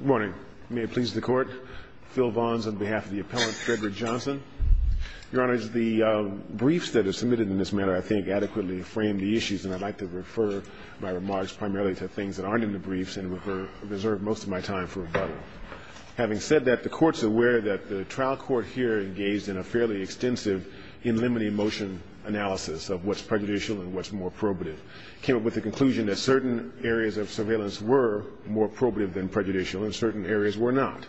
Morning. May it please the Court. Phil Vons on behalf of the appellant, Frederick Johnson. Your Honor, the briefs that are submitted in this matter, I think, adequately frame the issues. And I'd like to refer my remarks primarily to things that aren't in the briefs and reserve most of my time for rebuttal. Having said that, the Court's aware that the trial court here engaged in a fairly extensive in limine motion analysis of what's prejudicial and what's more probative. It came up with the conclusion that certain areas of surveillance were more probative than prejudicial and certain areas were not.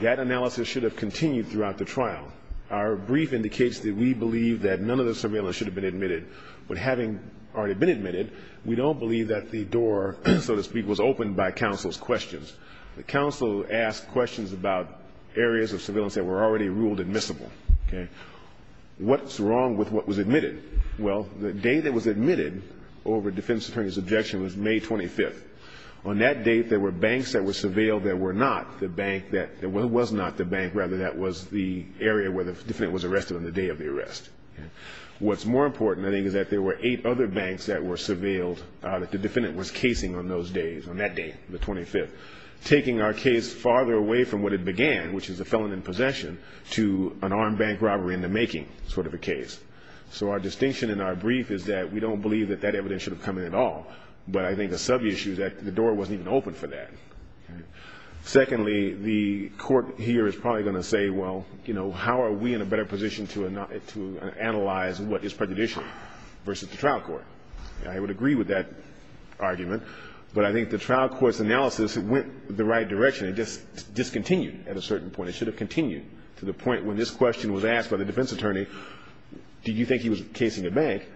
That analysis should have continued throughout the trial. Our brief indicates that we believe that none of the surveillance should have been admitted. But having already been admitted, we don't believe that the door, so to speak, was opened by counsel's questions. The counsel asked questions about areas of surveillance that were already ruled admissible. What's wrong with what was admitted? Well, the day that was admitted over defense attorney's objection was May 25th. On that date, there were banks that were surveilled that were not the bank that was not the bank, rather, that was the area where the defendant was arrested on the day of the arrest. What's more important, I think, is that there were eight other banks that were surveilled that the defendant was casing on those days, on that day, the 25th, taking our case farther away from what it began, which is a felon in possession, to an armed bank robbery in the making sort of a case. So our distinction in our brief is that we don't believe that that evidence should have come in at all. But I think the sub-issue is that the door wasn't even open for that. Secondly, the court here is probably going to say, well, you know, how are we in a better position to analyze what is prejudicial versus the trial court? I would agree with that argument. But I think the trial court's analysis went the right direction. It just discontinued at a certain point. It should have continued to the point when this question was asked by the defense attorney, do you think he was casing a bank?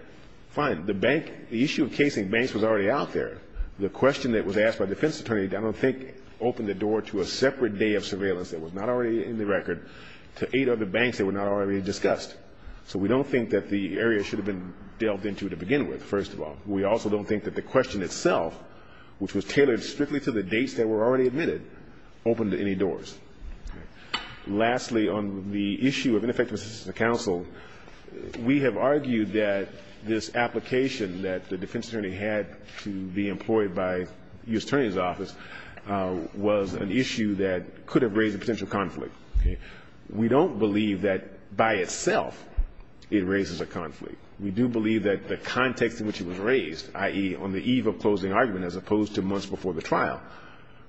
Fine. The issue of casing banks was already out there. The question that was asked by the defense attorney, I don't think, opened the door to a separate day of surveillance that was not already in the record to eight other banks that were not already discussed. So we don't think that the area should have been delved into to begin with, first of all. We also don't think that the question itself, which was tailored strictly to the dates that were already admitted, opened any doors. Lastly, on the issue of ineffective assistance to counsel, we have argued that this application that the defense attorney had to be employed by the U.S. Attorney's Office was an issue that could have raised a potential conflict. We don't believe that by itself it raises a conflict. We do believe that the context in which it was raised, i.e., on the eve of closing argument as opposed to months before the trial,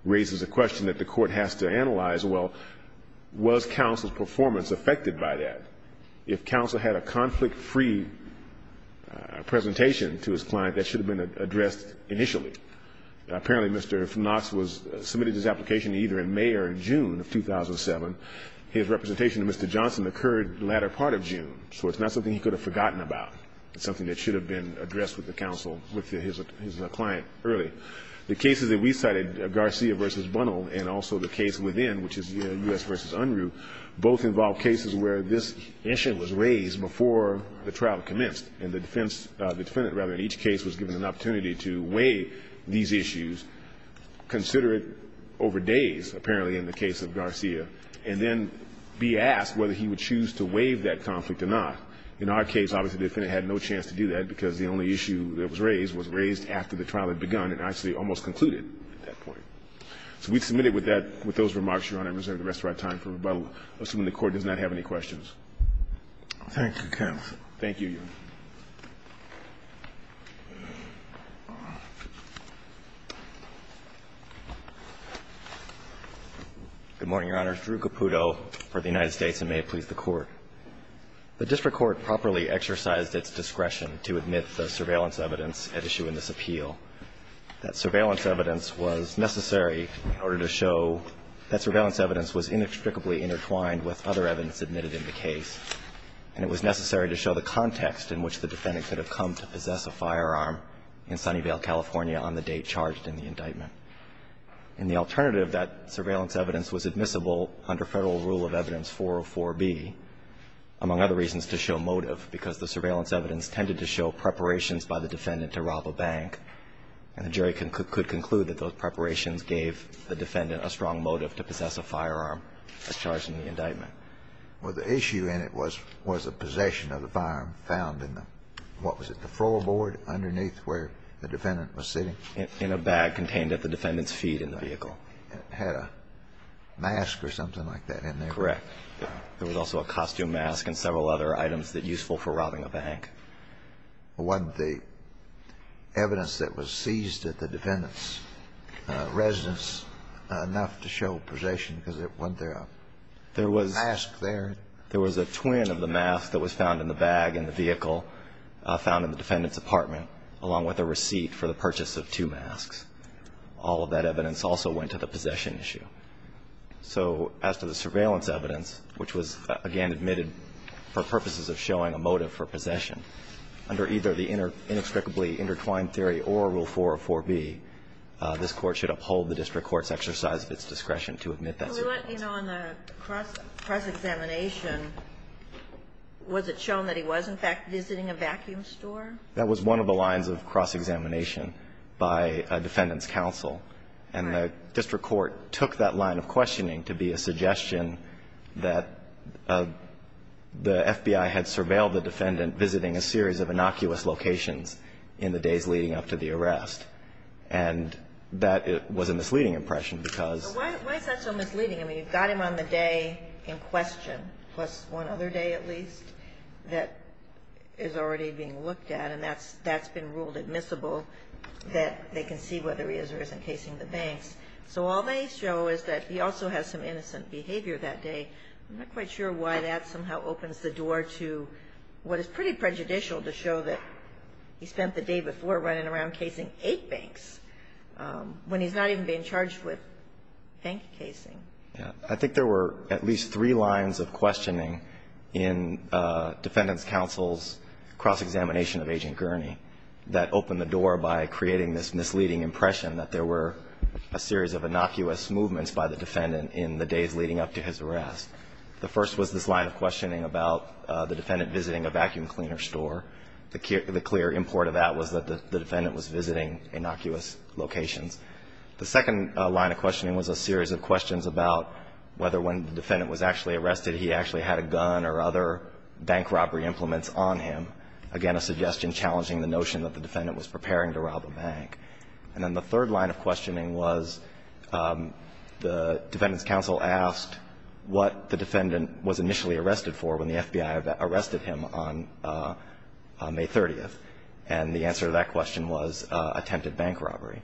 raises a question that the court has to analyze, well, was counsel's performance affected by that? If counsel had a conflict-free presentation to his client, that should have been addressed initially. Apparently Mr. Knox submitted his application either in May or June of 2007. His representation to Mr. Johnson occurred the latter part of June, so it's not something he could have forgotten about. It's something that should have been addressed with the counsel, with his client, early. The cases that we cited, Garcia v. Bunnell, and also the case within, which is U.S. v. Unruh, both involve cases where this issue was raised before the trial commenced, and the defendant, rather, in each case was given an opportunity to weigh the these issues, consider it over days, apparently in the case of Garcia, and then be asked whether he would choose to waive that conflict or not. In our case, obviously the defendant had no chance to do that because the only issue that was raised was raised after the trial had begun and actually almost concluded at that point. So we submitted with that, with those remarks, Your Honor, and reserve the rest of our time for rebuttal, assuming the Court does not have any questions. Thank you, counsel. Thank you, Your Honor. Good morning, Your Honor. Drew Caputo for the United States, and may it please the Court. The district court properly exercised its discretion to admit the surveillance evidence at issue in this appeal. That surveillance evidence was necessary in order to show that surveillance evidence was inextricably intertwined with other evidence admitted in the case, and it was necessary to show the context in which the defendant could have come to possess a firearm in Sunnyvale, California, on the date charged in the indictment. And the alternative, that surveillance evidence was admissible under Federal Rule of Evidence 404b, among other reasons, to show motive, because the surveillance evidence tended to show preparations by the defendant to rob a bank, and the jury could conclude that those were the weapons used to rob the bank. And the evidence that was found in the case was a possession of the firearm that was charged in the indictment. Well, the issue in it was a possession of the firearm found in the, what was it, the floorboard underneath where the defendant was sitting? In a bag contained at the defendant's feet in the vehicle. It had a mask or something like that in there. Correct. There was also a costume mask and several other items that useful for robbing a bank. Wasn't the evidence that was seized at the defendant's residence enough to show possession because it wasn't there a mask there? There was a twin of the mask that was found in the bag in the vehicle found in the defendant's apartment, along with a receipt for the purchase of two masks. All of that evidence also went to the possession issue. So as to the surveillance evidence, which was, again, admitted for purposes of showing a motive for possession, under either the inextricably intertwined theory or Rule 404B, this Court should uphold the district court's exercise of its discretion to admit that surveillance. Well, you know, in the cross-examination, was it shown that he was, in fact, visiting a vacuum store? That was one of the lines of cross-examination by a defendant's counsel. Right. And the district court took that line of questioning to be a suggestion that the FBI had surveilled the defendant visiting a series of innocuous locations in the days leading up to the arrest. And that was a misleading impression because Why is that so misleading? I mean, you've got him on the day in question, plus one other day at least, that is already being looked at, and that's been ruled admissible, that they can see whether he is or isn't casing the banks. So all they show is that he also has some innocent behavior that day. I'm not quite sure why that somehow opens the door to what is pretty prejudicial to show that he spent the day before running around casing eight banks, when he's not even being charged with bank casing. Yeah. I think there were at least three lines of questioning in defendant's counsel's cross-examination of Agent Gurney that opened the door by creating this misleading impression that there were a series of innocuous movements by the defendant in the days leading up to his arrest. The first was this line of questioning about the defendant visiting a vacuum cleaner store. The clear import of that was that the defendant was visiting innocuous locations. The second line of questioning was a series of questions about whether when the defendant was actually arrested, he actually had a gun or other bank robbery implements on him, again, a suggestion challenging the notion that the defendant was preparing to rob a bank. And then the third line of questioning was the defendant's counsel asked what the defendant was initially arrested for when the FBI arrested him on May 30th, and the answer to that question was attempted bank robbery.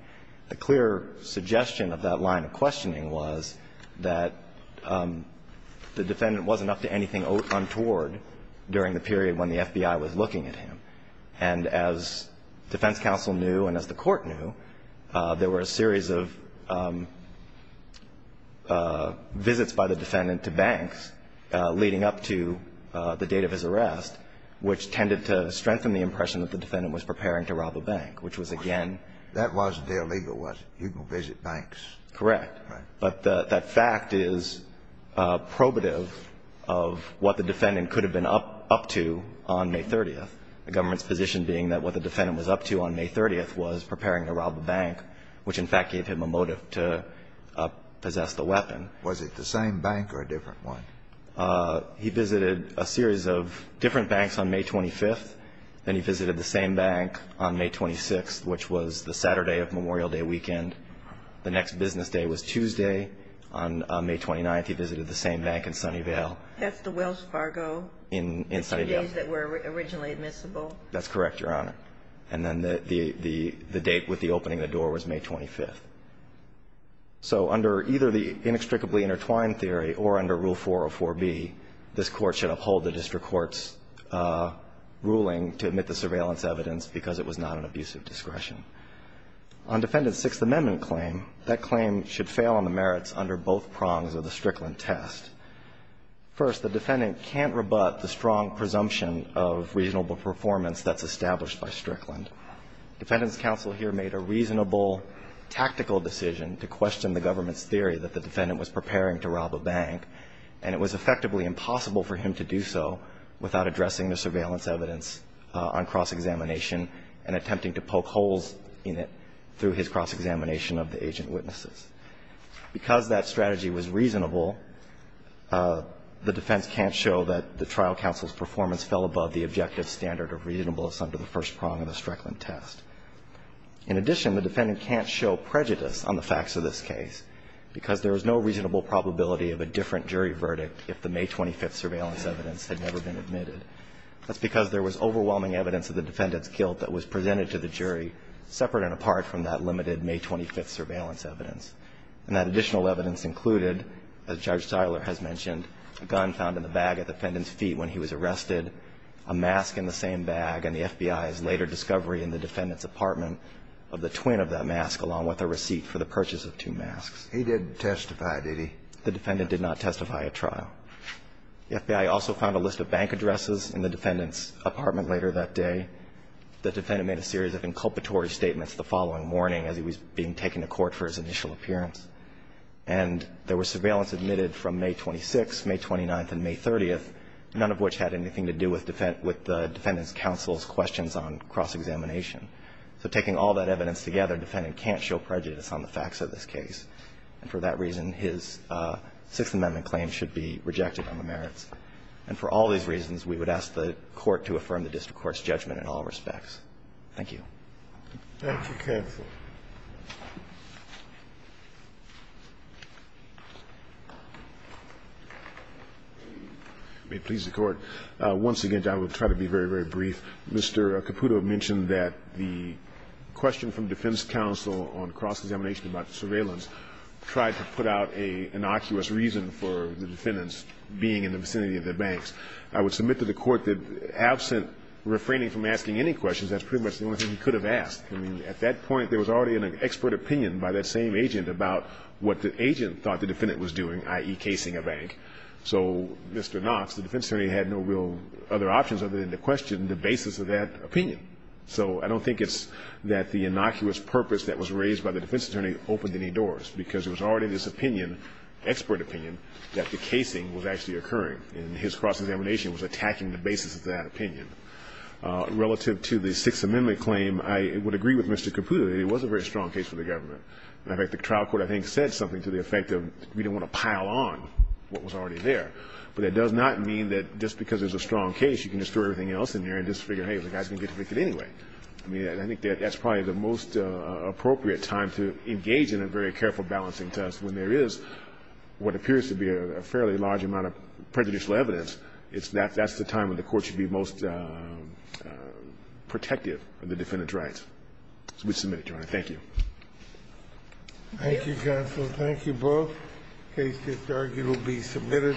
The clear suggestion of that line of questioning was that the defendant wasn't up to anything untoward during the period when the FBI was looking at him. And as defense counsel knew and as the Court knew, there were a series of visits by the defendant to banks leading up to the date of his arrest, which tended to strengthen the impression that the defendant was preparing to rob a bank, which was, again ---- That wasn't illegal, was it? You can visit banks. Correct. Right. But that fact is probative of what the defendant could have been up to on May 30th, the government's position being that what the defendant was up to on May 30th was preparing to rob a bank, which in fact gave him a motive to possess the weapon. Was it the same bank or a different one? He visited a series of different banks on May 25th. Then he visited the same bank on May 26th, which was the Saturday of Memorial Day weekend. The next business day was Tuesday. On May 29th, he visited the same bank in Sunnyvale. That's the Wells Fargo. In Sunnyvale. The two days that were originally admissible. That's correct, Your Honor. And then the date with the opening of the door was May 25th. So under either the inextricably intertwined theory or under Rule 404B, this Court should uphold the district court's ruling to admit the surveillance evidence because it was not an abuse of discretion. On Defendant's Sixth Amendment claim, that claim should fail on the merits under both prongs of the Strickland test. First, the defendant can't rebut the strong presumption of reasonable performance that's established by Strickland. Defendant's counsel here made a reasonable tactical decision to question the government's theory that the defendant was preparing to rob a bank, and it was effectively impossible for him to do so without addressing the surveillance evidence on cross-examination and attempting to poke holes in it through his cross-examination of the agent witnesses. Because that strategy was reasonable, the defense can't show that the trial counsel's performance fell above the objective standard of reasonableness under the first prong of the Strickland test. In addition, the defendant can't show prejudice on the facts of this case because there was no reasonable probability of a different jury verdict if the May 25th surveillance evidence had never been admitted. That's because there was overwhelming evidence of the defendant's guilt that was presented to the jury separate and apart from that limited May 25th surveillance evidence. And that additional evidence included, as Judge Tyler has mentioned, a gun found in the bag at the defendant's feet when he was arrested, a mask in the same bag, and the FBI's later discovery in the defendant's apartment of the twin of that mask along with a receipt for the purchase of two masks. He didn't testify, did he? The defendant did not testify at trial. The FBI also found a list of bank addresses in the defendant's apartment later that day. The defendant made a series of inculpatory statements the following morning as he was being taken to court for his initial appearance. And there was surveillance admitted from May 26th, May 29th, and May 30th, none of which had anything to do with the defendant's counsel's questions on cross-examination. So taking all that evidence together, the defendant can't show prejudice on the facts of this case. And for that reason, his Sixth Amendment claim should be rejected on the merits. And for all these reasons, we would ask the Court to affirm the district court's judgment in all respects. Thank you. Thank you, counsel. May it please the Court. Once again, I will try to be very, very brief. Mr. Caputo mentioned that the question from defense counsel on cross-examination about surveillance tried to put out an innocuous reason for the defendant's being in the vicinity of the banks. I would submit to the Court that absent refraining from asking any questions, that's pretty much the only thing he could have asked. I mean, at that point, there was already an expert opinion by that same agent about what the agent thought the defendant was doing, i.e., casing a bank. So, Mr. Knox, the defense attorney had no real other options other than to question the basis of that opinion. So I don't think it's that the innocuous purpose that was raised by the defense attorney opened any doors, because it was already this opinion, expert opinion, that the casing was actually occurring. And his cross-examination was attacking the basis of that opinion. Relative to the Sixth Amendment claim, I would agree with Mr. Caputo that it was a very strong case for the government. In fact, the trial court, I think, said something to the effect of we didn't want to pile on what was already there. But that does not mean that just because it's a strong case, you can just throw everything else in there and just figure, hey, the guy's going to get convicted anyway. I mean, I think that's probably the most appropriate time to engage in a very careful balancing test when there is what appears to be a fairly large amount of prejudicial evidence. That's the time when the Court should be most protective of the defendant's rights. So we submit it, Your Honor. Thank you. Thank you, counsel. Thank you both. The case that's argued will be submitted.